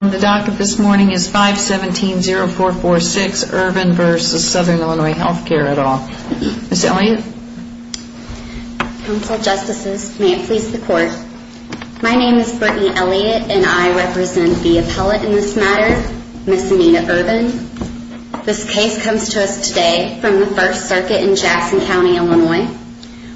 My name is Brittney Elliott and I represent the appellate in this matter, Ms. Amina Irvin. This case comes to us today from the 1st Circuit in Jackson County, Illinois,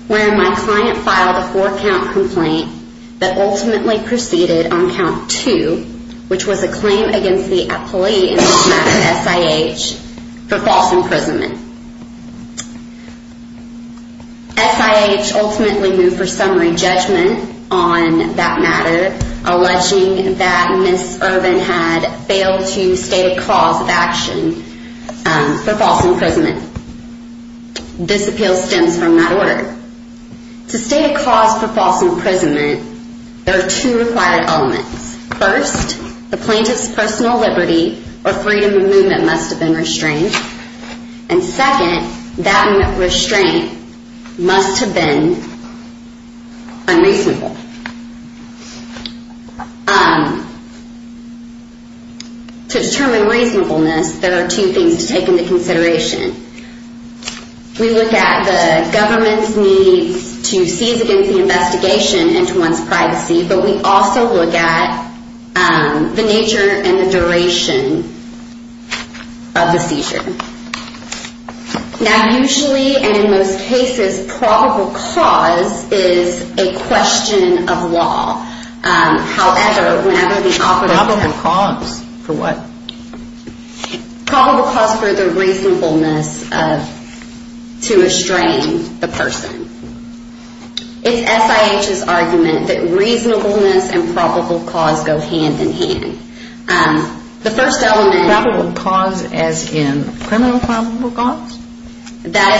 where my client filed a 4 count complaint that ultimately proceeded on count 2, which was a claim against the appellate in this matter, S.I.H., for false imprisonment. S.I.H. ultimately moved for summary judgment on that matter, alleging that Ms. Irvin had failed to state a cause of action for false imprisonment. This appeal stems from that order. To state a cause for false imprisonment, there are two required elements. First, the plaintiff's personal liberty or freedom of movement must have been restrained. And second, that restraint must have been unreasonable. To determine reasonableness, there are two things to take into consideration. We look at the government's need to seize against the investigation into one's privacy, but we also look at the nature and the duration of the seizure. Now, usually, and in most cases, probable cause is a question of law. However, whenever the operative... Probable cause for what? Probable cause for the reasonableness to restrain the person. It's S.I.H.'s argument that reasonableness and probable cause go hand in hand. The first element... Probable cause as in criminal probable cause? That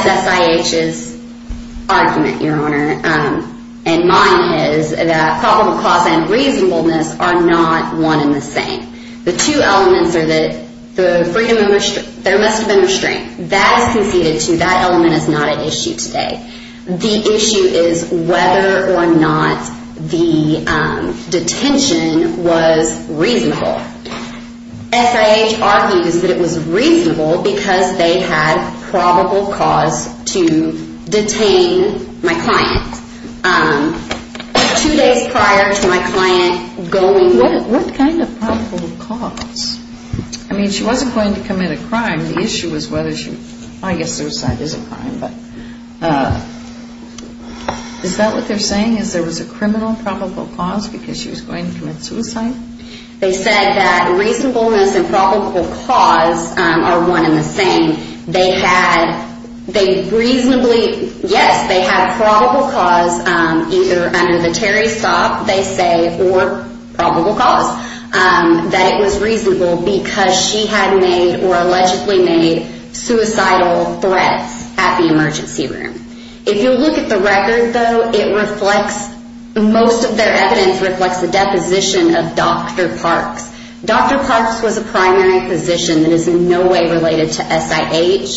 is S.I.H.'s argument, Your Honor. And mine is that probable cause and reasonableness are not one and the same. The two elements are that the freedom of... There must have been restraint. That is conceded to. That element is not at issue today. The issue is whether or not the detention was reasonable. S.I.H. argues that it was reasonable because they had probable cause to detain my client. Two days prior to my client going... What kind of probable cause? I mean, she wasn't going to commit a crime. The issue was whether she... I guess suicide is a crime, but... Is that what they're saying? Is there was a criminal probable cause because she was going to commit suicide? They said that reasonableness and probable cause are one and the same. They had... They reasonably... Yes, they had probable cause either under the Terry stop, they say, or probable cause that it was reasonable because she had made or allegedly made suicidal threats at the emergency room. If you look at the record, though, it reflects... Most of their evidence reflects the deposition of Dr. Parks. Dr. Parks was a primary physician that is in no way related to S.I.H.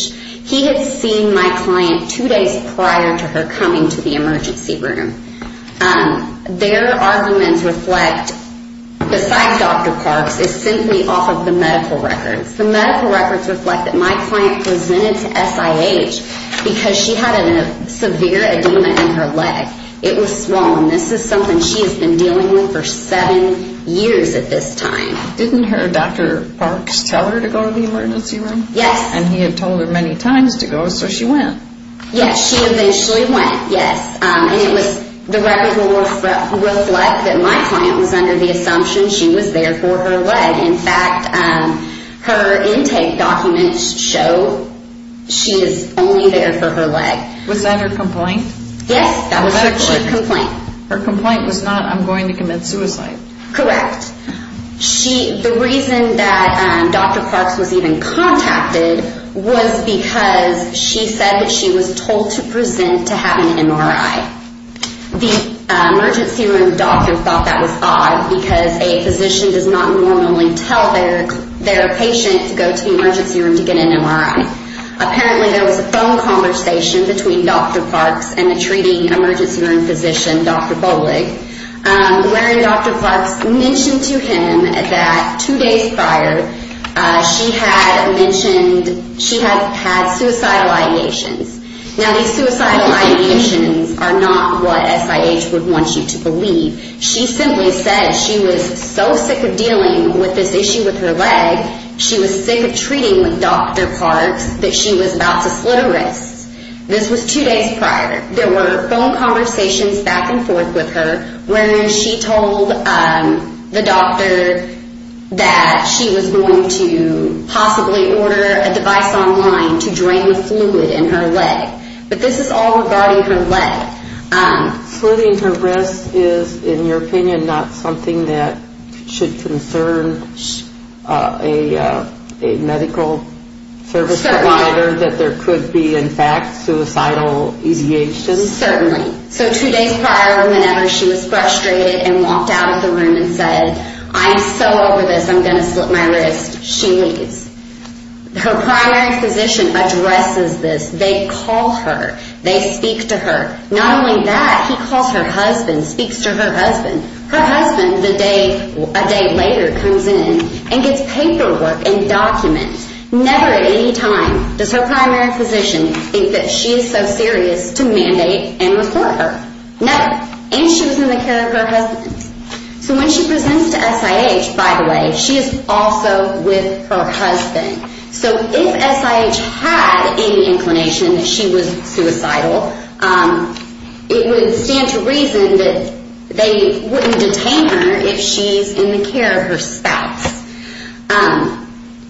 He had seen my client two days prior to her coming to the emergency room. And their arguments reflect... Beside Dr. Parks is simply off of the medical records. The medical records reflect that my client presented to S.I.H. because she had a severe edema in her leg. It was swollen. This is something she has been dealing with for seven years at this time. Didn't her Dr. Parks tell her to go to the emergency room? Yes. And he had told her many times to go, so she went. Yes, she eventually went. Yes. And the record will reflect that my client was under the assumption she was there for her leg. In fact, her intake documents show she is only there for her leg. Was that her complaint? Yes, that was her complaint. Her complaint was not, I'm going to commit suicide. Correct. The reason that Dr. Parks was even contacted was because she said that she was told to present to have an MRI. The emergency room doctor thought that was odd because a physician does not normally tell their patient to go to the emergency room to get an MRI. Apparently, there was a phone conversation between Dr. Parks and the treating emergency room physician, Dr. Bollig, wherein Dr. Parks mentioned to him that two days prior, she had mentioned she had had suicidal ideations. Now, these suicidal ideations are not what SIH would want you to believe. She simply said she was so sick of dealing with this issue with her leg, she was sick of treating with Dr. Parks, that she was about to slit her wrists. This was two days prior. There were phone conversations back and forth with her where she told the doctor that she was going to possibly order a device online to drain the fluid in her leg. But this is all regarding her leg. Slitting her wrists is, in your opinion, not something that should concern a medical service provider that there could be, in fact, suicidal ideations? Certainly. So two days prior, whenever she was frustrated and walked out of the room and said, I'm so over this, I'm going to slit my wrist, she leaves. Her primary physician addresses this. They call her. They speak to her. Not only that, he calls her husband, speaks to her husband. Her husband, a day later, comes in and gets paperwork and documents. Never at any time does her primary physician think she is so serious to mandate and report her. Never. And she was in the care of her husband. So when she presents to SIH, by the way, she is also with her husband. So if SIH had any inclination that she was suicidal, it would stand to reason that they wouldn't detain her if she's in the care of her spouse.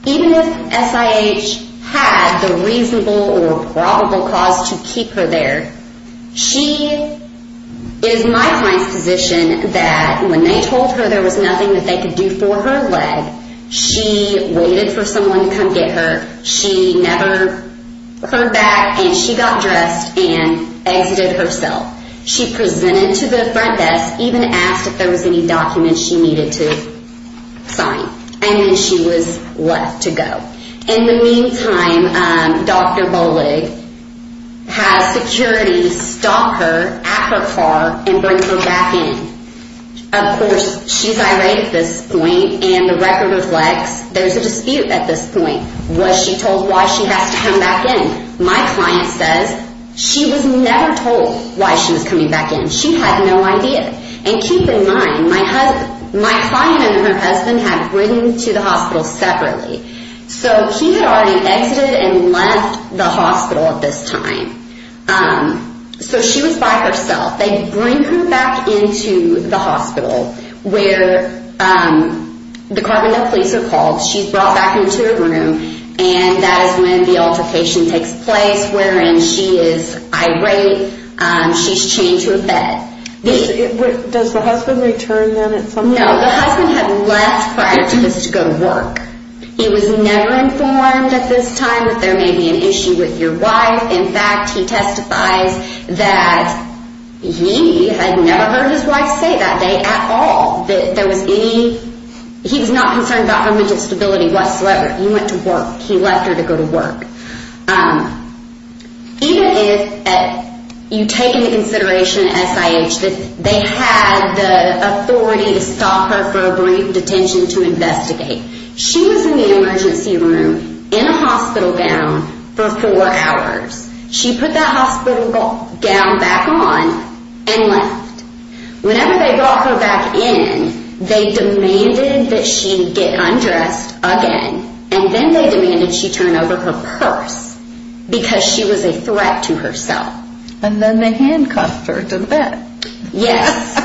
Even if SIH had the reasonable or probable cause to keep her there, she is my client's physician that when they told her there was nothing that they could do for her leg, she waited for someone to come get her. She never heard back, and she got dressed and exited herself. She presented to the front desk, even asked if there was any documents she needed to sign. And then she was left to go. In the meantime, Dr. Bollig has security stop her at her car and bring her back in. Of course, she's irate at this point, and the record reflects there's a dispute at this point. Was she told why she has to come back in? My client says she was never told why she was coming back in. She had no idea. And keep in mind, my client and her husband had ridden to the hospital separately. So he had already exited and left the hospital at this time. So she was by herself. They bring her back into the hospital where the Carbondale police are called. She's brought back into her room, and that is when the altercation takes place, wherein she is irate. She's chained to a bed. Does the husband return then at some point? No, the husband had left prior to this to go to work. He was never informed at this time that there may be an issue with your wife. In fact, he testifies that he had never heard his wife say that day at all. He was not concerned about her mental stability whatsoever. He went to work. He left her to go to work. Um, even if you take into consideration SIH, that they had the authority to stop her for a brief detention to investigate. She was in the emergency room in a hospital gown for four hours. She put that hospital gown back on and left. Whenever they brought her back in, they demanded that she get undressed again. And then they demanded she turn over her purse because she was a threat to herself. And then they handcuffed her, didn't they? Yes,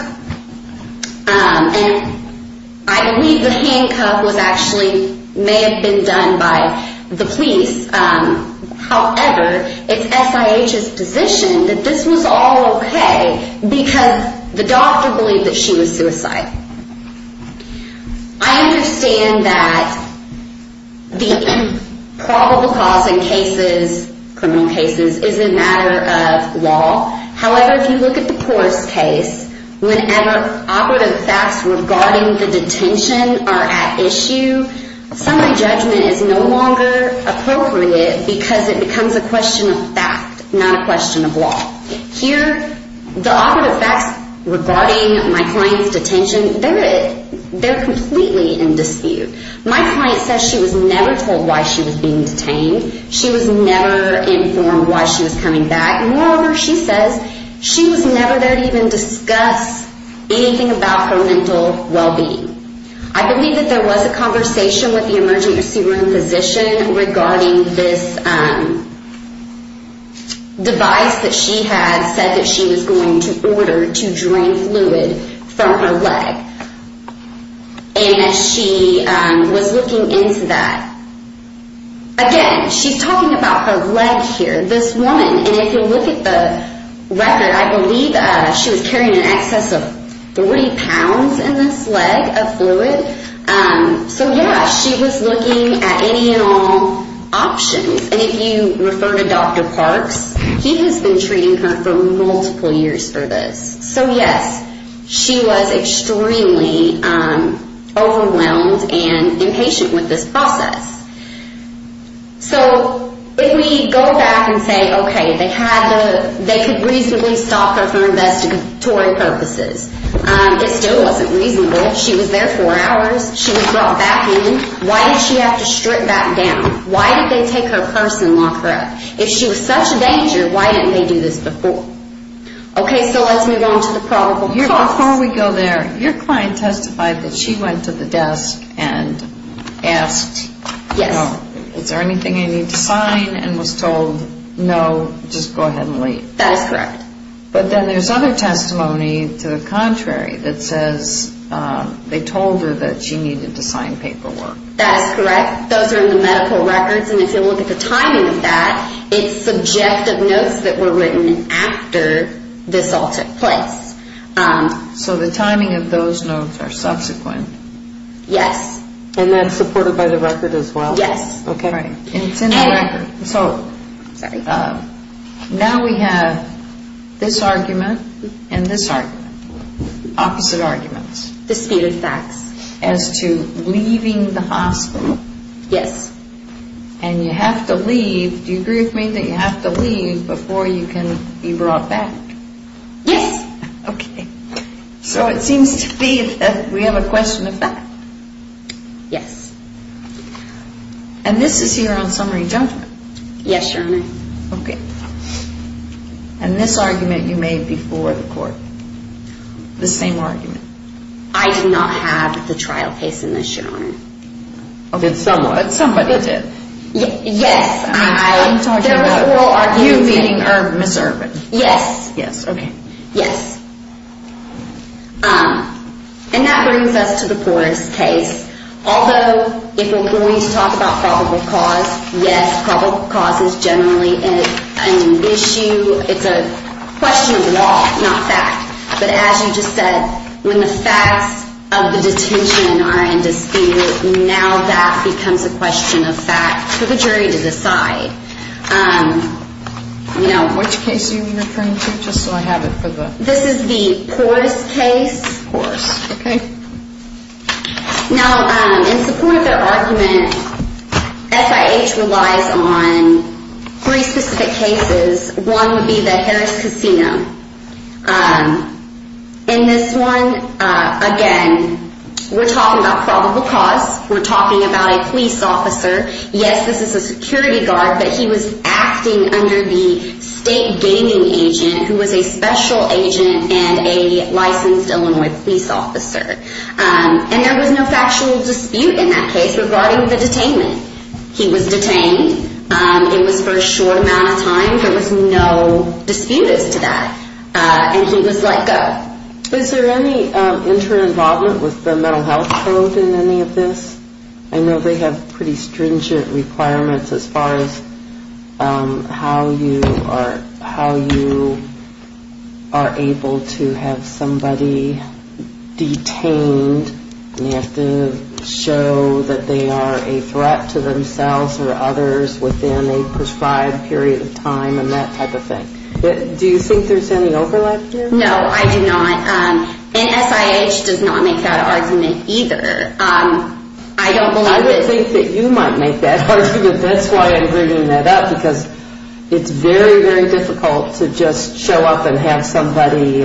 and I believe the handcuff was actually, may have been done by the police. However, it's SIH's position that this was all okay because the doctor believed that she was suicidal. I understand that the probable cause in cases, criminal cases, is a matter of law. However, if you look at the poorest case, whenever operative facts regarding the detention are at issue, summary judgment is no longer appropriate because it becomes a question of fact, not a question of law. Here, the operative facts regarding my client's detention, they're completely in dispute. My client says she was never told why she was being detained. She was never informed why she was coming back. Moreover, she says she was never there to even discuss anything about her mental well-being. I believe that there was a conversation with the emergency room physician regarding this device that she had said that she was going to order to drain fluid from her leg. And she was looking into that. Again, she's talking about her leg here. This woman, and if you look at the record, I believe she was carrying in excess of 40 pounds in this leg of fluid. So yeah, she was looking at any and all options. And if you refer to Dr. Parks, he has been treating her for multiple years for this. So yes, she was extremely overwhelmed and impatient with this process. So if we go back and say, okay, they could reasonably stop her for investigatory purposes. It still wasn't reasonable. She was there four hours. She was brought back in. Why did she have to strip back down? Why did they take her purse and lock her up? If she was such a danger, why didn't they do this before? Okay, so let's move on to the probable cause. Before we go there, your client testified that she went to the desk and asked, is there anything I need to sign? And was told, no, just go ahead and leave. That is correct. But then there's other testimony to the contrary that says they told her that she needed to sign paperwork. That's correct. Those are in the medical records. And if you look at the timing of that, it's subjective notes that were written after this all took place. So the timing of those notes are subsequent? Yes. And that's supported by the record as well? Yes. Okay. And it's in the record. So now we have this argument and this argument. Opposite arguments. Disputed facts. As to leaving the hospital. Yes. And you have to leave. Do you agree with me that you have to leave before you can be brought back? Yes. Okay. So it seems to be that we have a question of fact. Yes. And this is your own summary judgment? Yes, Your Honor. Okay. And this argument you made before the court? The same argument? I did not have the trial case in this, Your Honor. Okay, someone, somebody did. Yes, I, there are oral arguments. I'm talking about you meeting Ms. Ervin. Yes. Yes, okay. Yes. And that brings us to the Porras case. Although, if we're going to talk about probable cause, yes, probable cause is generally an issue. It's a question of law, not fact. But as you just said, when the facts of the detention are in dispute, now that becomes a question of fact for the jury to decide. Which case are you referring to? Just so I have it for the... This is the Porras case. Porras. Okay. Now, in support of their argument, SIH relies on three specific cases. One would be the Harris Casino. In this one, again, we're talking about probable cause. We're talking about a police officer. Yes, this is a security guard, but he was acting under the state gaming agent, who was a special agent and a licensed Illinois police officer. And there was no factual dispute in that case regarding the detainment. He was detained. It was for a short amount of time. There was no disputes to that. And he was let go. Is there any inter-involvement with the mental health code in any of this? I know they have pretty stringent requirements as far as how you are able to have somebody detained. And they have to show that they are a threat to themselves or others within a prescribed period of time and that type of thing. Do you think there's any overlap here? No, I do not. And SIH does not make that argument either. I don't believe it. I would think that you might make that argument. That's why I'm bringing that up, because it's very, very difficult to just show up and have somebody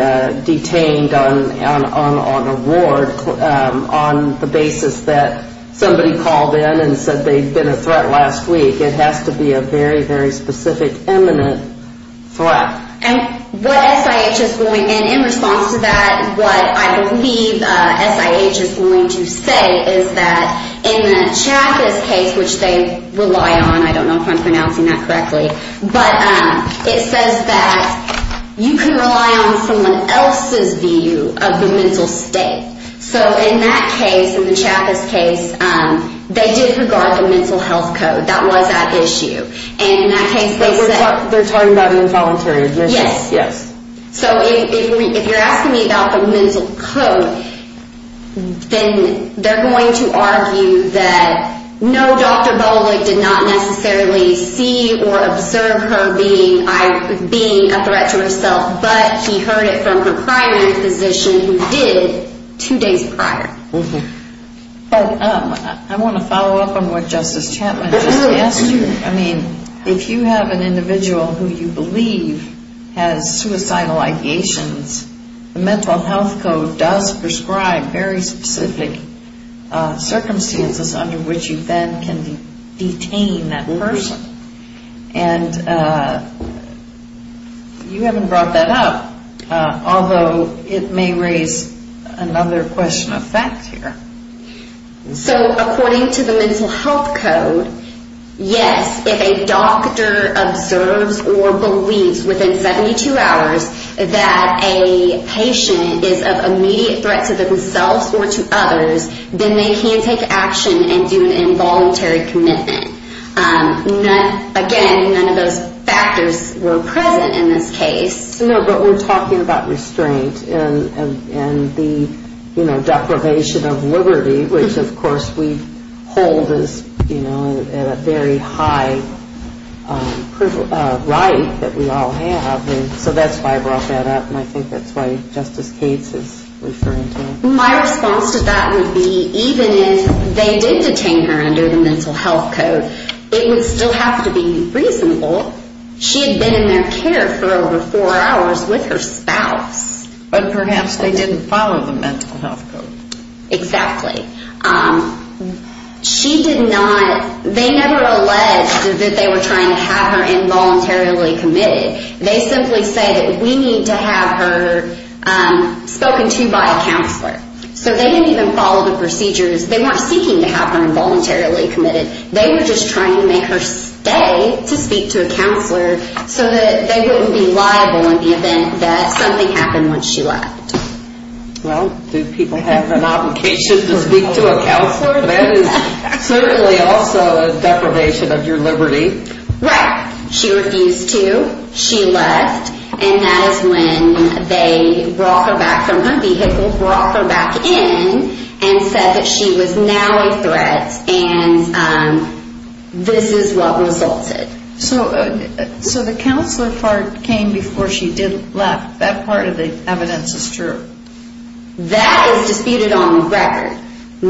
detained on a ward on the basis that somebody called in and said they'd been a threat last week. It has to be a very, very specific, imminent threat. And what SIH is going, and in response to that, what I believe SIH is going to say is that in the Chaffetz case, which they rely on, I don't know if I'm pronouncing that correctly, but it says that you can rely on someone else's view of the mental state. So in that case, in the Chaffetz case, they did regard the mental health code. That was at issue. And in that case, they said... They're talking about an involuntary admission. Yes. Yes. So if you're asking me about the mental code, then they're going to argue that no, Dr. Bollig did not necessarily see or observe her being a threat to herself, but he heard it from her primary physician who did two days prior. I want to follow up on what Justice Chapman just asked you. If you have an individual who you believe has suicidal ideations, the mental health code does prescribe very specific circumstances under which you then can detain that person. And you haven't brought that up, although it may raise another question of fact here. So according to the mental health code, yes, if a doctor observes or believes within 72 hours that a patient is of immediate threat to themselves or to others, then they can take action and do an involuntary commitment. Again, none of those factors were present in this case. No, but we're talking about restraint and the deprivation of liberty, which of course we hold as a very high right that we all have. So that's why I brought that up, and I think that's why Justice Cates is referring to it. My response to that would be, even if they did detain her under the mental health code, it would still have to be reasonable. She had been in their care for over four hours with her spouse. But perhaps they didn't follow the mental health code. Exactly. They never alleged that they were trying to have her involuntarily committed. They simply said that we need to have her spoken to by a counselor. So they didn't even follow the procedures. They weren't seeking to have her involuntarily committed. They were just trying to make her stay to speak to a counselor so that they wouldn't be liable in the event that something happened when she left. Well, do people have an obligation to speak to a counselor? That is certainly also a deprivation of your liberty. Right. She refused to. She left. And that is when they brought her back from her vehicle, brought her back in and said that she was now a threat. And this is what resulted. So the counselor part came before she did left. That part of the evidence is true. That is disputed on record.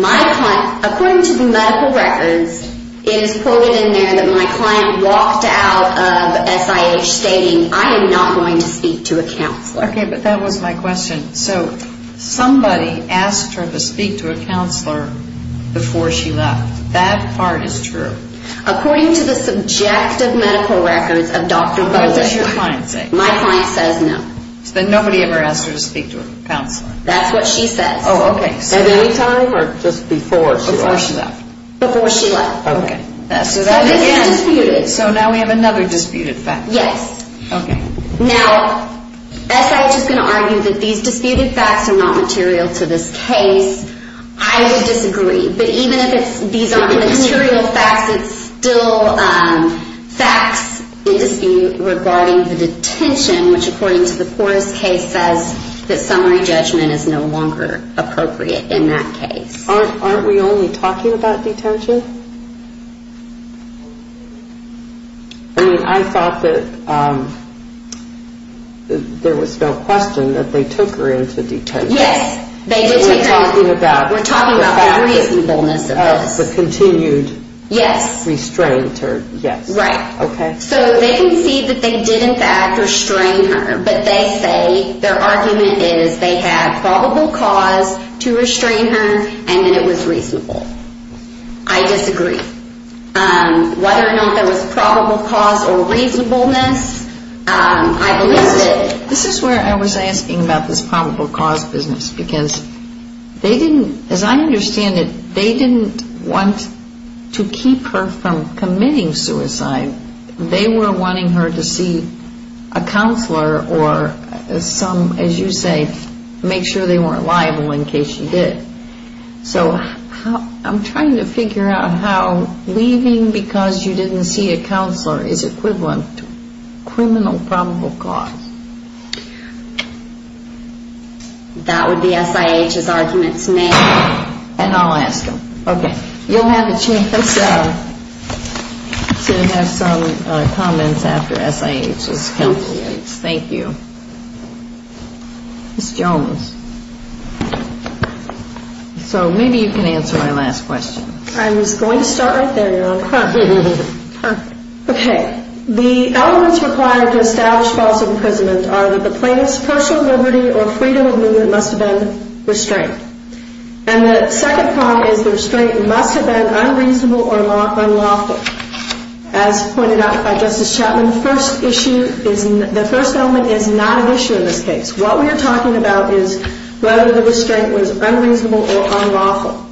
According to the medical records, it is quoted in there that my client walked out of SIH stating, I am not going to speak to a counselor. OK, but that was my question. So somebody asked her to speak to a counselor before she left. That part is true. According to the subjective medical records of Dr. Bowling. What does your client say? My client says no. Then nobody ever asked her to speak to a counselor. That is what she says. Oh, OK. At any time or just before she left? Before she left. Before she left. OK. So that is disputed. So now we have another disputed fact. Yes. OK. Now, SIH is going to argue that these disputed facts are not material to this case. I would disagree. But even if these are not material facts, it is still facts regarding the detention, which according to the Porras case, says that summary judgment is no longer appropriate in that case. Aren't we only talking about detention? I mean, I thought that there was no question that they took her into detention. Yes. They did take her. We are talking about the reasonableness of this. The continued restraint or yes. Right. OK. So they concede that they did, in fact, restrain her. But they say their argument is they had probable cause to restrain her and that it was reasonable. I disagree. Whether or not there was probable cause or reasonableness, I believe they did. This is where I was asking about this probable cause business. Because they didn't, as I understand it, they didn't want to keep her from committing suicide. They were wanting her to see a counselor or some, as you say, make sure they weren't liable in case she did. So I'm trying to figure out how leaving because you didn't see a counselor is equivalent to criminal probable cause. That would be SIH's arguments now. And I'll ask them. OK. You'll have a chance to have some comments after SIH is completed. Thank you. Ms. Jones. So maybe you can answer my last question. I was going to start right there. OK. The elements required to establish false imprisonment are that the plaintiff's partial liberty or freedom of movement must have been restrained. And the second problem is the restraint must have been unreasonable or unlawful. As pointed out by Justice Chapman, the first element is not an issue in this case. What we are talking about is whether the restraint was unreasonable or unlawful.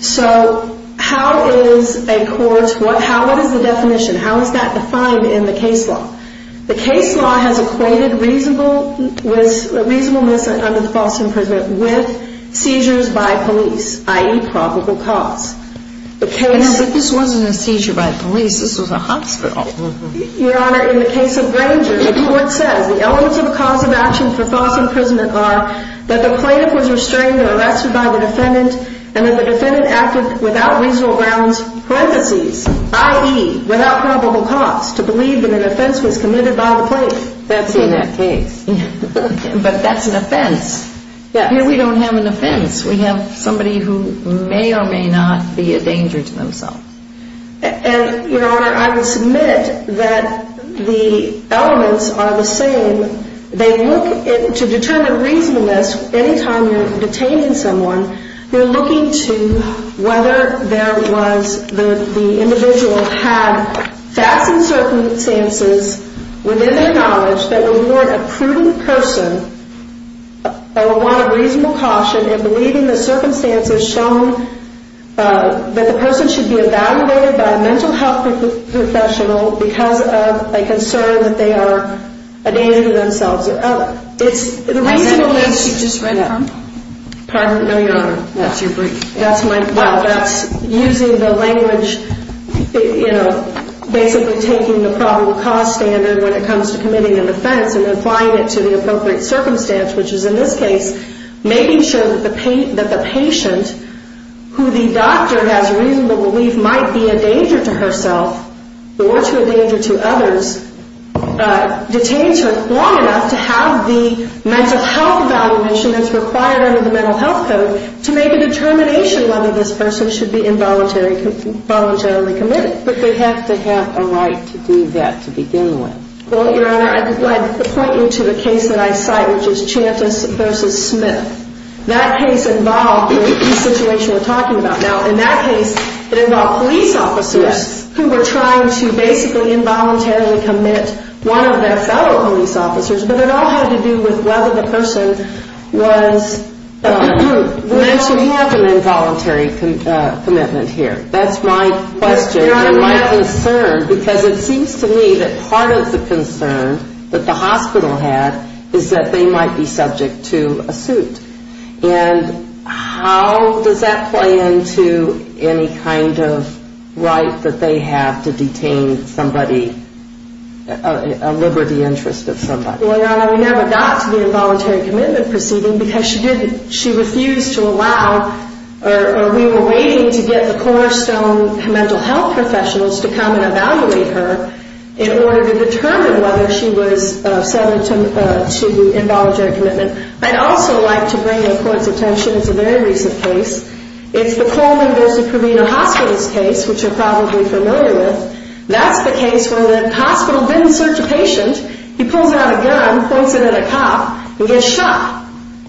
So how is a court, what is the definition? How is that defined in the case law? The case law has equated reasonableness under the false imprisonment with seizures by police, i.e., probable cause. But this wasn't a seizure by police. This was a hospital. Your Honor, in the case of Granger, the court says the elements of a cause of action for false imprisonment are that the plaintiff was restrained or arrested by the defendant and that the defendant acted without reasonable grounds, parentheses, i.e., without probable cause, to believe that an offense was committed by the plaintiff. That's in that case. But that's an offense. Here we don't have an offense. We have somebody who may or may not be a danger to themselves. And, Your Honor, I would submit that the elements are the same. They look to determine reasonableness. Anytime you're detaining someone, you're looking to whether there was the individual had facts and circumstances within their knowledge that would warrant a prudent person or warrant a reasonable caution and believing the circumstances shown that the person should be evaluated by a mental health professional because of a concern that they are a danger to themselves or others. It's the reasonableness. Was that the case you just read from? Pardon? No, Your Honor. That's your brief. That's my, well, that's using the language, you know, basically taking the probable cause standard when it comes to committing an offense and applying it to the appropriate circumstance, which is, in this case, making sure that the patient who the doctor has reasonable belief might be a danger to herself or to a danger to others, detains her long enough to have the mental health evaluation that's required under the Mental Health Code to make a determination whether this person should be involuntarily committed. But they have to have a right to do that to begin with. Well, Your Honor, I'd like to point you to the case that I cite, which is Chantis versus Smith. That case involved the situation we're talking about now. In that case, it involved police officers who were trying to basically involuntarily commit one of their fellow police officers, but it all had to do with whether the person was mentally. We have an involuntary commitment here. That's my question and my concern. Because it seems to me that part of the concern that the hospital had is that they might be subject to a suit. And how does that play into any kind of right that they have to detain somebody, a liberty interest of somebody? Well, Your Honor, we never got to the involuntary commitment proceeding because she refused to allow, or we were waiting to get the cornerstone mental health professionals to come and evaluate her in order to determine whether she was subject to involuntary commitment. I'd also like to bring the Court's attention to a very recent case. It's the Coleman versus Proveno Hospital's case, which you're probably familiar with. That's the case where the hospital didn't search a patient. He pulls out a gun, points it at a cop, and gets shot.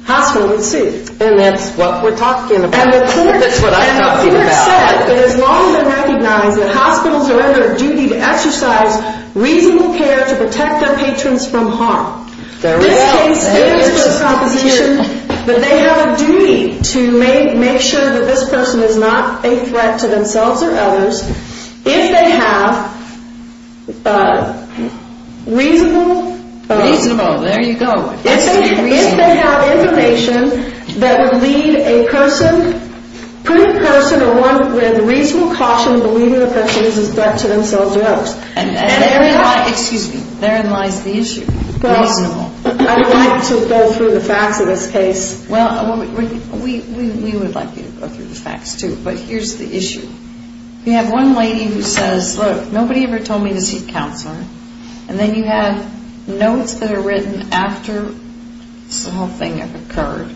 Hospital in suit. And that's what we're talking about. That's what I'm talking about. It has long been recognized that hospitals are under a duty to exercise reasonable care to protect their patrons from harm. There we go. This case, it is the proposition that they have a duty to make sure that this person is not a threat to themselves or others if they have reasonable... Reasonable, there you go. If they have information that would lead a person, put a person along with reasonable caution believing that this person is a threat to themselves or others. And therein lies, excuse me, therein lies the issue. Reasonable. I would like to go through the facts of this case. Well, we would like you to go through the facts too, but here's the issue. You have one lady who says, look, nobody ever told me to seek counsel. And then you have notes that are written after the whole thing occurred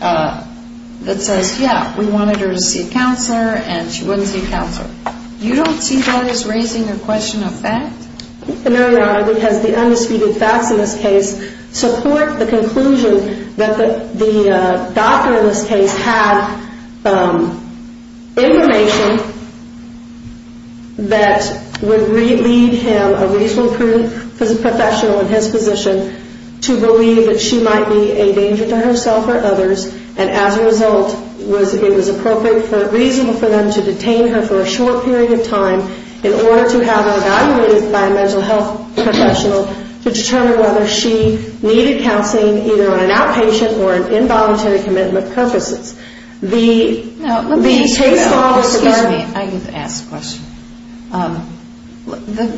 that says, yeah, we wanted her to seek counsel and she wouldn't seek counsel. You don't see why he's raising a question of fact? No, Your Honor, because the undisputed facts in this case support the conclusion that the doctor in this case had information that would lead him, a reasonable professional in his position, to believe that she might be a danger to herself or others. And as a result, it was appropriate for, reasonable for them to detain her for a short period of time in order to have her evaluated by a mental health professional to determine whether she needed counseling, either on an outpatient or an involuntary commitment purposes. Now, let me ask you now, excuse me, I get to ask the question.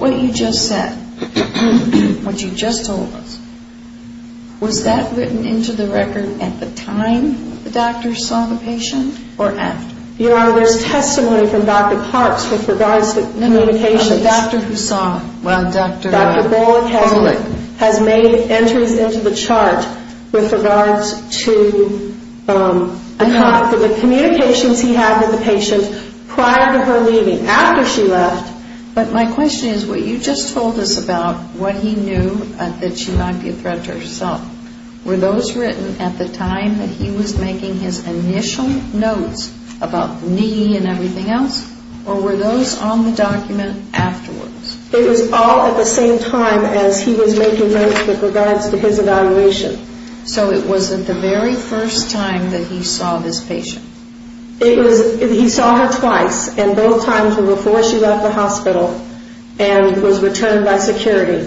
What you just said, what you just told us, was that written into the record at the time the doctor saw the patient or after? Your Honor, there's testimony from Dr. Parks with regards to communications. Dr. Husson, Dr. Bolick has made entries into the chart with regards to the communications he had with the patient prior to her leaving, after she left. But my question is, what you just told us about what he knew that she might be a threat to herself, were those written at the time that he was making his initial notes about knee and everything else? Or were those on the document afterwards? It was all at the same time as he was making notes with regards to his evaluation. So it wasn't the very first time that he saw this patient? It was, he saw her twice and both times before she left the hospital and was returned by security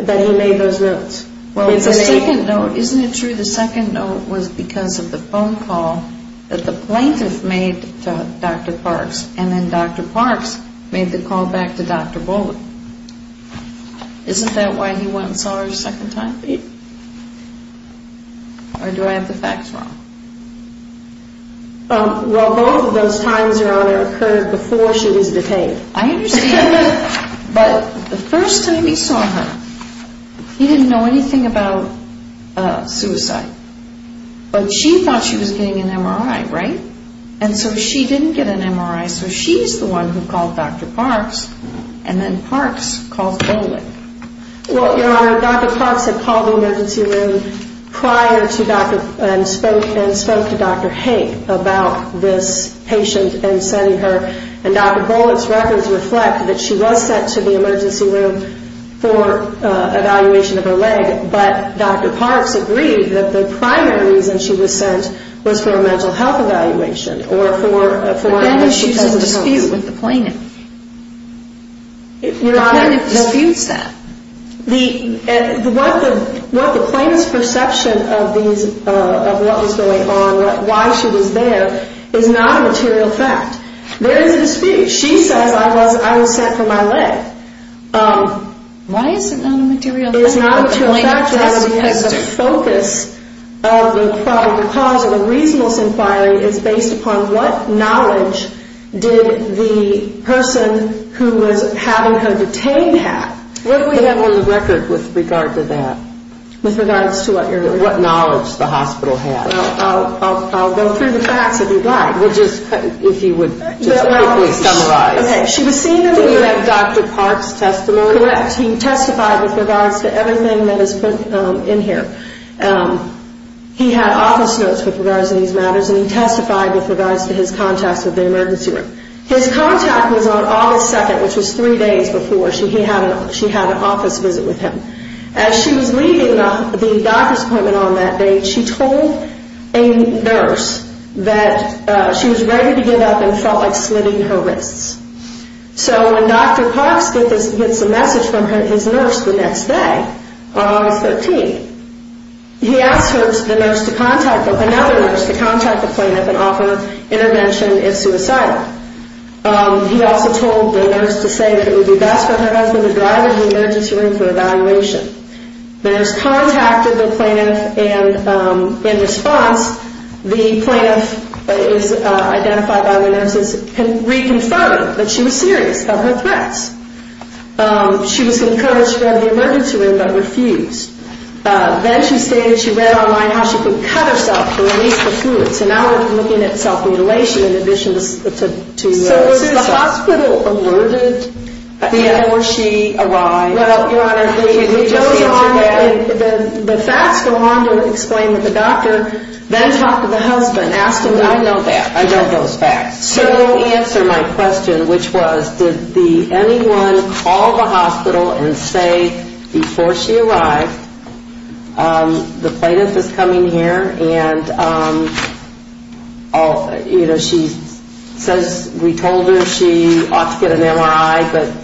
that he made those notes. Well, the second note, isn't it true the second note was because of the phone call that the plaintiff made to Dr. Parks and then Dr. Parks made the call back to Dr. Bolick? Isn't that why he went and saw her a second time? Or do I have the facts wrong? Well, both of those times, Your Honor, occurred before she was detained. I understand, but the first time he saw her, he didn't know anything about suicide. But she thought she was getting an MRI, right? And so she didn't get an MRI, so she's the one who called Dr. Parks and then Parks called Bolick. Well, Your Honor, Dr. Parks had called the emergency room prior to Dr. and spoke to Dr. Haig about this patient and sending her and Dr. Bolick's records reflect that she was sent to the emergency room for evaluation of her leg. But Dr. Parks agreed that the primary reason she was sent was for a mental health evaluation. But then she's in dispute with the plaintiff. The plaintiff disputes that. What the plaintiff's perception of what was going on, why she was there, is not a material fact. There is a dispute. She says I was sent for my leg. Why is it not a material fact? It's not a material fact because the focus of the cause of the reasonableness inquiry is based upon what knowledge did the person who was having her detained have. What do we have on the record with regard to that? With regards to what, Your Honor? What knowledge the hospital had. I'll go through the facts if you'd like. If you would quickly summarize. Okay. She was seen. Do we have Dr. Parks testimony? Correct. He testified with regards to everything that is put in here. He had office notes with regards to these matters and he testified with regards to his contacts with the emergency room. His contact was on August 2nd, which was three days before she had an office visit with him. As she was leaving the doctor's appointment on that day, she told a nurse that she was ready to give up and felt like slitting her wrists. So when Dr. Parks gets a message from his nurse the next day, on August 13th, he asked the nurse to contact another nurse to contact the plaintiff and offer intervention if suicidal. He also told the nurse to say that it would be best for her husband to drive to the emergency room for evaluation. The nurse contacted the plaintiff and in response, the plaintiff is identified by the nurses and reconfirmed that she was serious about her threats. She was encouraged to go to the emergency room but refused. Then she stated she read online how she could cut herself to release the fluid. So now we're looking at self-mutilation in addition to suicide. So was the hospital alerted before she arrived? Your Honor, the facts go on to explain that the doctor then talked to the husband. I know that. I know those facts. So to answer my question, which was did anyone call the hospital and say before she arrived, the plaintiff is coming here and, you know, she says we told her she ought to get an MRI but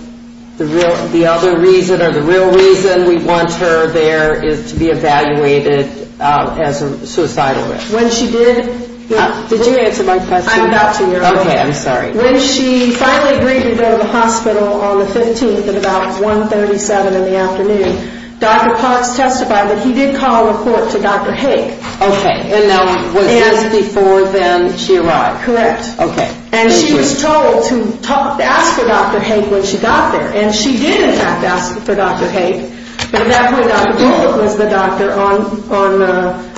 the other reason or the real reason we want her there is to be evaluated as a suicidal risk. When she did, did you answer my question? I'm about to, Your Honor. Okay, I'm sorry. When she finally agreed to go to the hospital on the 15th at about 1.37 in the afternoon, Dr. Potts testified that he did call a report to Dr. Haig. Okay, and now was this before then she arrived? Correct. Okay. And she was told to ask for Dr. Haig when she got there and she did in fact ask for Dr. Haig but at that point, Dr. Bullock was the doctor on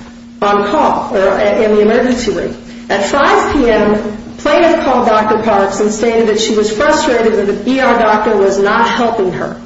call in the emergency room. At 5 p.m., plaintiff called Dr. Parks and stated that she was frustrated that the ER doctor was not helping her.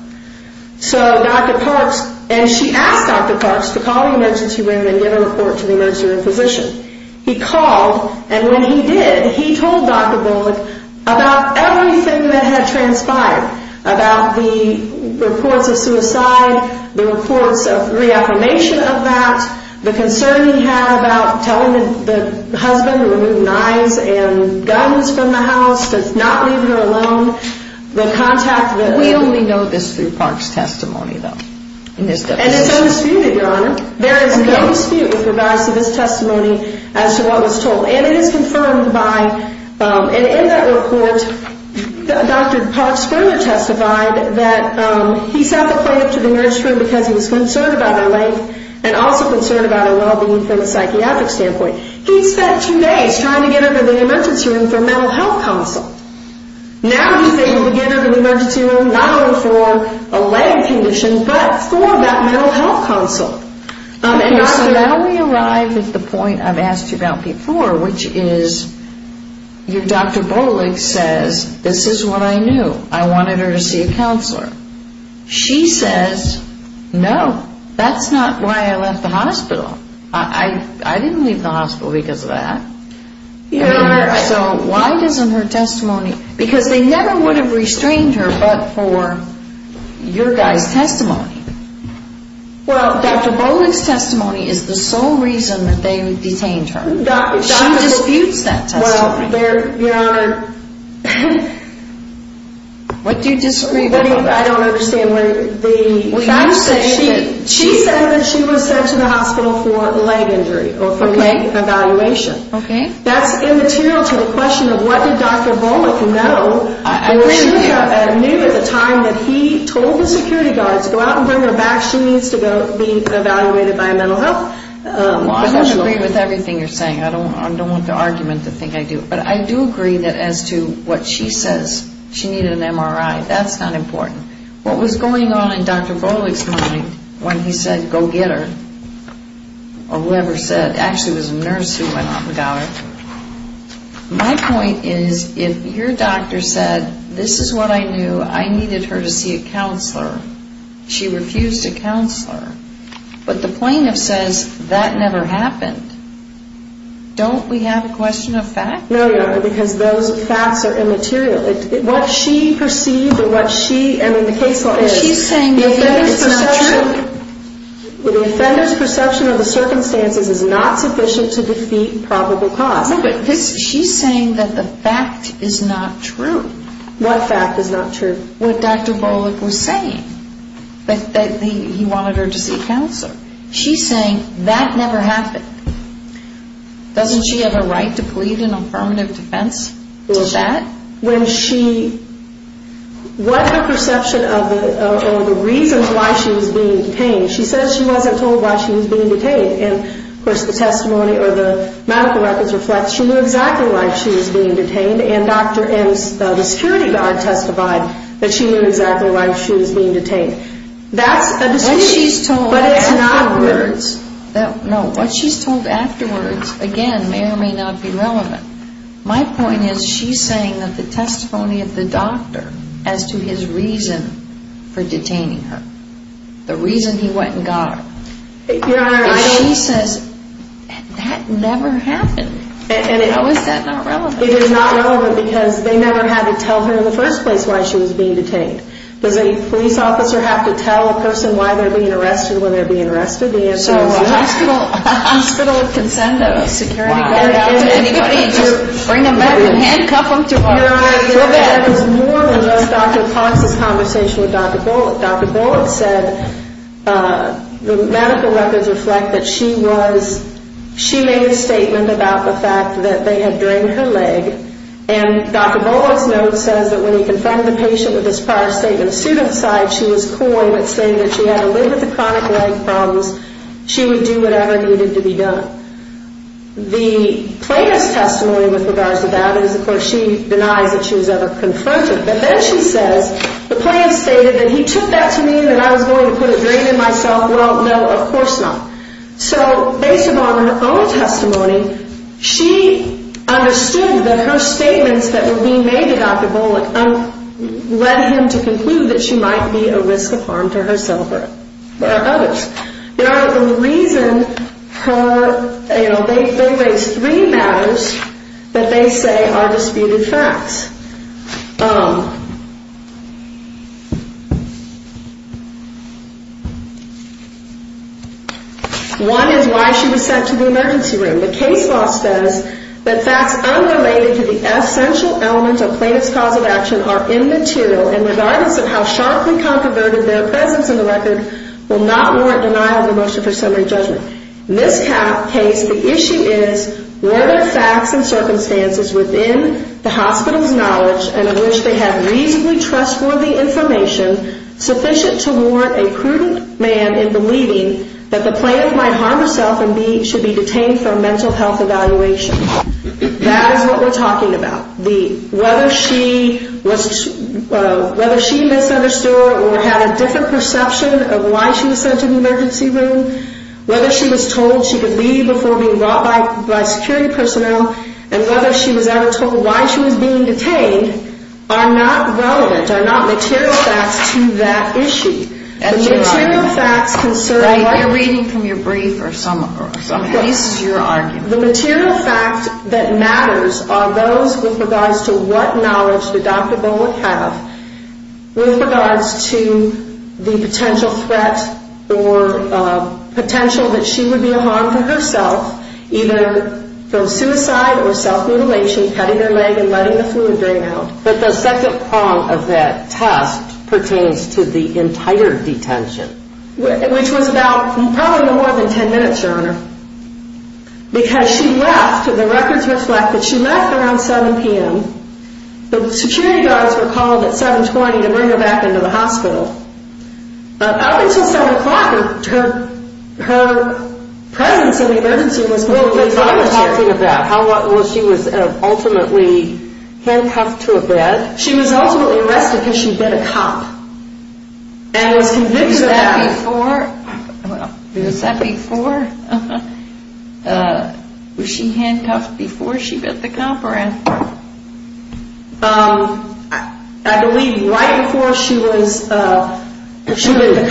So Dr. Parks, and she asked Dr. Parks to call the emergency room and get a report to the emergency room physician. He called and when he did, he told Dr. Bullock about everything that had transpired, about the reports of suicide, the reports of reaffirmation of that, the concern he had about telling the husband to remove knives and guns from the house, to not leave her alone, the contact that... We only know this through Parks' testimony though. And it's undisputed, Your Honor. There is no dispute with regards to this testimony as to what was told. And it is confirmed by... And in that report, Dr. Parks further testified that he sat the plaintiff to the emergency room because he was concerned about her life and also concerned about her well-being from a psychiatric standpoint. He spent two days trying to get her to the emergency room for a mental health consult. Now he's able to get her to the emergency room not only for a leg condition but for that mental health consult. Okay, so now we arrive at the point I've asked you about before, which is your Dr. Bullock says, this is what I knew. I wanted her to see a counselor. She says, no, that's not why I left the hospital. I didn't leave the hospital because of that. So why doesn't her testimony... Because they never would have restrained her but for your guy's testimony. Well, Dr. Bullock's testimony is the sole reason that they detained her. She disputes that testimony. Well, Your Honor... What do you disagree about? I don't understand. When the... When you said that... She said that she was sent to the hospital for a leg injury or for an evaluation. Okay. That's immaterial to the question of what did Dr. Bullock know... I agree with you. ...or she knew at the time that he told the security guards, go out and bring her back. She needs to be evaluated by a mental health professional. Well, I don't agree with everything you're saying. I don't want to argument the thing I do. But I do agree that as to what she says, she needed an MRI. That's not important. What was going on in Dr. Bullock's mind when he said, go get her, or whoever said, actually it was a nurse who went off and got her. My point is, if your doctor said, this is what I knew. I needed her to see a counselor. She refused a counselor. But the plaintiff says, that never happened. Don't we have a question of fact? No, Your Honor, because those facts are immaterial. What she perceived and what she... I mean, the case law is... She's saying that it's not true. The offender's perception of the circumstances is not sufficient to defeat probable cause. No, but she's saying that the fact is not true. What fact is not true? What Dr. Bullock was saying. That he wanted her to see a counselor. She's saying, that never happened. Doesn't she have a right to plead an affirmative defense to that? When she... What her perception of the reasons why she was being detained. She says she wasn't told why she was being detained. And of course, the testimony or the medical records reflect, she knew exactly why she was being detained. And Dr. M's... The security guard testified that she knew exactly why she was being detained. That's a decision. What she's told afterwards... No, what she's told afterwards, again, may or may not be relevant. My point is, she's saying that the testimony of the doctor, as to his reason for detaining her. The reason he went and got her. Your Honor, I... But she says, that never happened. How is that not relevant? It is not relevant because they never had to tell her in the first place why she was being detained. Does a police officer have to tell a person why they're being arrested, when they're being arrested? The answer is, yes. So, hospital consent of a security guard out to anybody, to bring them back and handcuff them to where they want to go to bed. Your Honor, that was more than just Dr. Cox's conversation with Dr. Bullock. Dr. Bullock said... The medical records reflect that she was... She made a statement about the fact that they had drained her leg. And Dr. Bullock's note says, that when he confronted the patient with this prior statement of suicide, she was coined at saying that she had to live with the chronic leg problems. She would do whatever needed to be done. The plaintiff's testimony with regards to that is, of course, she denies that she was ever confronted. But then she says, the plaintiff stated that he took that to mean that I was going to put a drain in myself. Well, no, of course not. So, based upon her own testimony, she understood that her statements that were being made to Dr. Bullock, led him to conclude that she might be a risk of harm to herself or others. Your Honor, the reason her, you know, they raise three matters that they say are disputed facts. One is why she was sent to the emergency room. The case law says that facts unrelated to the essential elements of plaintiff's cause of action are immaterial. And regardless of how sharply conconverted their presence in the record will not warrant denial of the motion for summary judgment. This case, the issue is whether facts and circumstances within the hospital's knowledge and in which they have reasonably trustworthy information, sufficient to warrant a prudent man in believing that the plaintiff might harm herself and be, should be detained for a mental health evaluation. That is what we're talking about. The, whether she was, whether she misunderstood or had a different perception of why she was sent to the emergency room, whether she was told she could leave before being brought by security personnel and whether she was ever told why she was being detained are not relevant, are not material facts to that issue. The material facts concerning, while you're reading from your brief or some case, your argument. The material fact that matters are those with regards to what knowledge the doctor would have with regards to the potential threat or potential that she would be a harm to herself, either from suicide or self-mutilation, cutting her leg and letting the fluid drain out. But the second prong of that test pertains to the entire detention, which was about probably no more than 10 minutes, Your Honor, because she left, the records reflect that she left around 7 p.m. The security guards were called at 7.20 to bring her back into the hospital. But up until 7 o'clock, her, her presence in the emergency room was completely gone. I'm talking about how she was ultimately handcuffed to a bed. She was ultimately arrested because she bit a cop. And was convicted of that before. Well, was that before? Was she handcuffed before she bit the cop? During the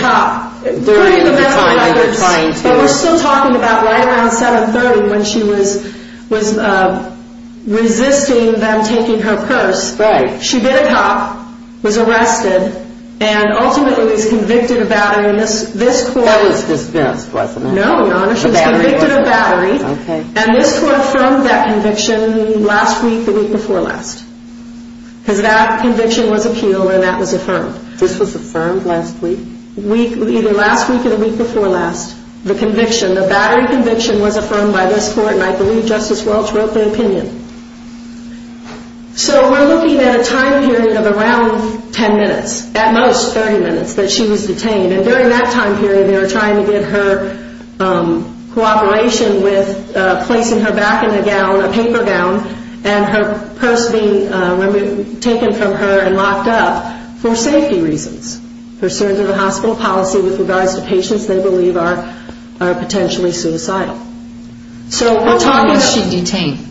time that you're trying to. But we're still talking about right around 7.30 when she was, was resisting them taking her purse. Right. She bit a cop, was arrested, and ultimately was convicted of battery. And this, this court. That was dismissed, wasn't it? No, Your Honor, she was convicted of battery. Okay. And this court affirmed that conviction last week, the week before last. Because that conviction was appealed and that was affirmed. This was affirmed last week? Week, either last week or the week before last. The conviction, the battery conviction was affirmed by this court. And I believe Justice Welch wrote the opinion. So we're looking at a time period of around 10 minutes. At most, 30 minutes that she was detained. And during that time period, they were trying to get her cooperation with placing her back in a gown, a paper gown. And her purse being taken from her and locked up for safety reasons. Pursuant to the hospital policy with regards to patients they believe are, are potentially suicidal. So we're talking. How long was she detained?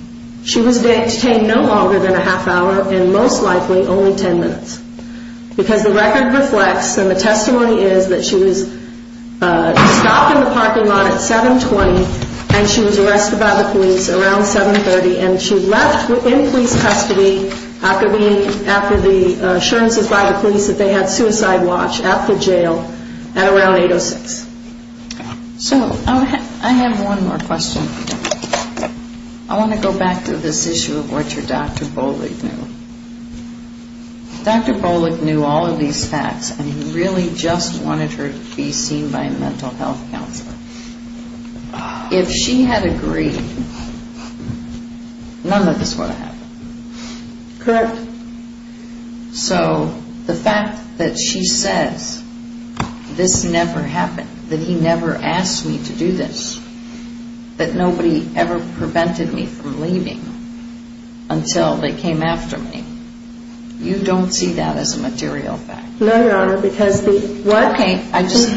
She was detained no longer than a half hour and most likely only 10 minutes. Because the record reflects and the testimony is that she was stopped in the parking lot at 7.20 and she was arrested by the police around 7.30. And she left within police custody after being, after the assurances by the police that they had suicide watch at the jail at around 8.06. So I have one more question. I want to go back to this issue of what your Dr. Bollig knew. Dr. Bollig knew all of these facts and he really just wanted her to be seen by a mental health counselor. If she had agreed, none of this would have happened. Correct. So the fact that she says, this never happened, that he never asked me to do this, that nobody ever prevented me from leaving until they came after me. You don't see that as a material fact? No, Your Honor, because the. Well, okay. I just,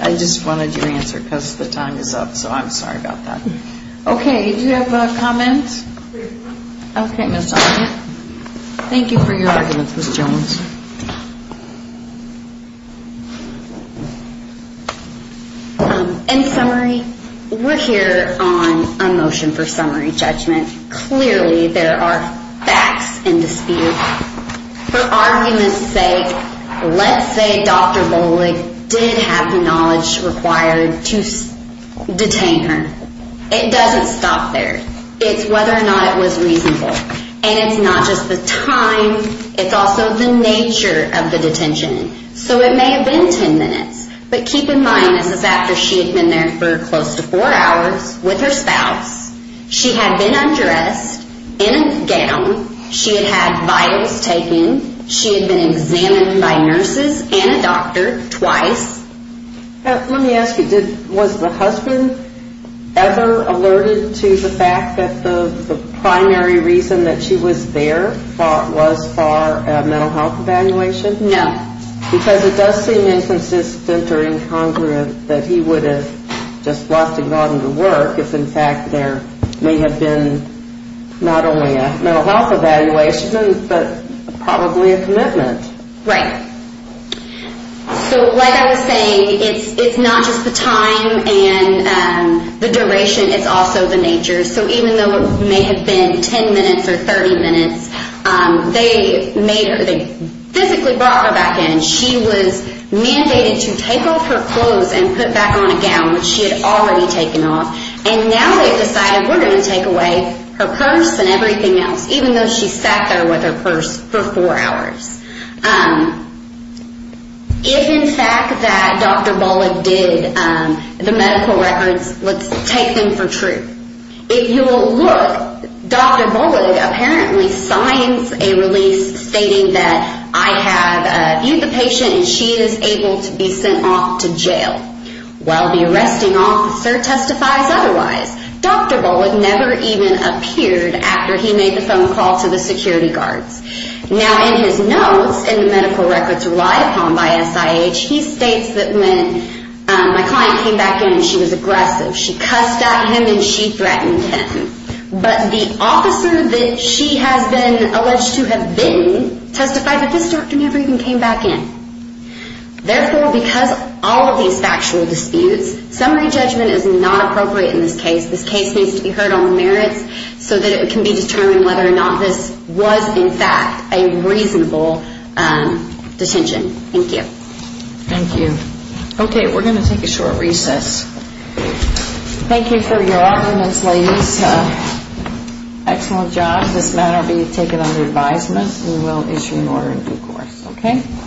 I just wanted your answer because the time is up. So I'm sorry about that. Okay. Do you have a comment? Okay. Thank you for your argument, Ms. Jones. In summary, we're here on a motion for summary judgment. Clearly there are facts in dispute. For argument's sake, let's say Dr. Bollig did have the knowledge required to detain her. It doesn't stop there. It's whether or not it was reasonable and it's not just the time. It's also the nature of the detention. So it may have been 10 minutes, but keep in mind this is after she had been there for close to four hours with her spouse. She had been undressed in a gown. She had had vitals taken. She had been examined by nurses and a doctor twice. Let me ask you, was the husband ever alerted to the fact that the primary reason that she was there was for a mental health evaluation? No. Because it does seem inconsistent or incongruent that he would have just left and gone to work if in fact there may have been not only a mental health evaluation, but probably a commitment. Right. So like I was saying, it's not just the time and the duration. It's also the nature. So even though it may have been 10 minutes or 30 minutes, they made her, they physically brought her back in. She was mandated to take off her clothes and put back on a gown, which she had already taken off. And now they've decided we're going to take away her purse and everything else, even though she sat there with her purse for four hours. If in fact that Dr. Bullock did the medical records, let's take them for true. If you will look, Dr. Bullock apparently signs a release stating that I have viewed the patient and she is able to be sent off to jail. While the arresting officer testifies otherwise, Dr. Bullock never even appeared after he made the phone call to the security guards. Now in his notes and the medical records relied upon by SIH, he states that when my client came back in, she was aggressive. She cussed at him and she threatened him. But the officer that she has been alleged to have been testified that this doctor never even came back in. Therefore, because all of these factual disputes, summary judgment is not appropriate in this case. This case needs to be heard on the merits so that it can be determined whether or not this was in fact a reasonable detention. Thank you. Thank you. Okay, we're going to take a short recess. Thank you for your arguments, ladies. Excellent job. This matter will be taken under advisement. We will issue an order in due course. Okay.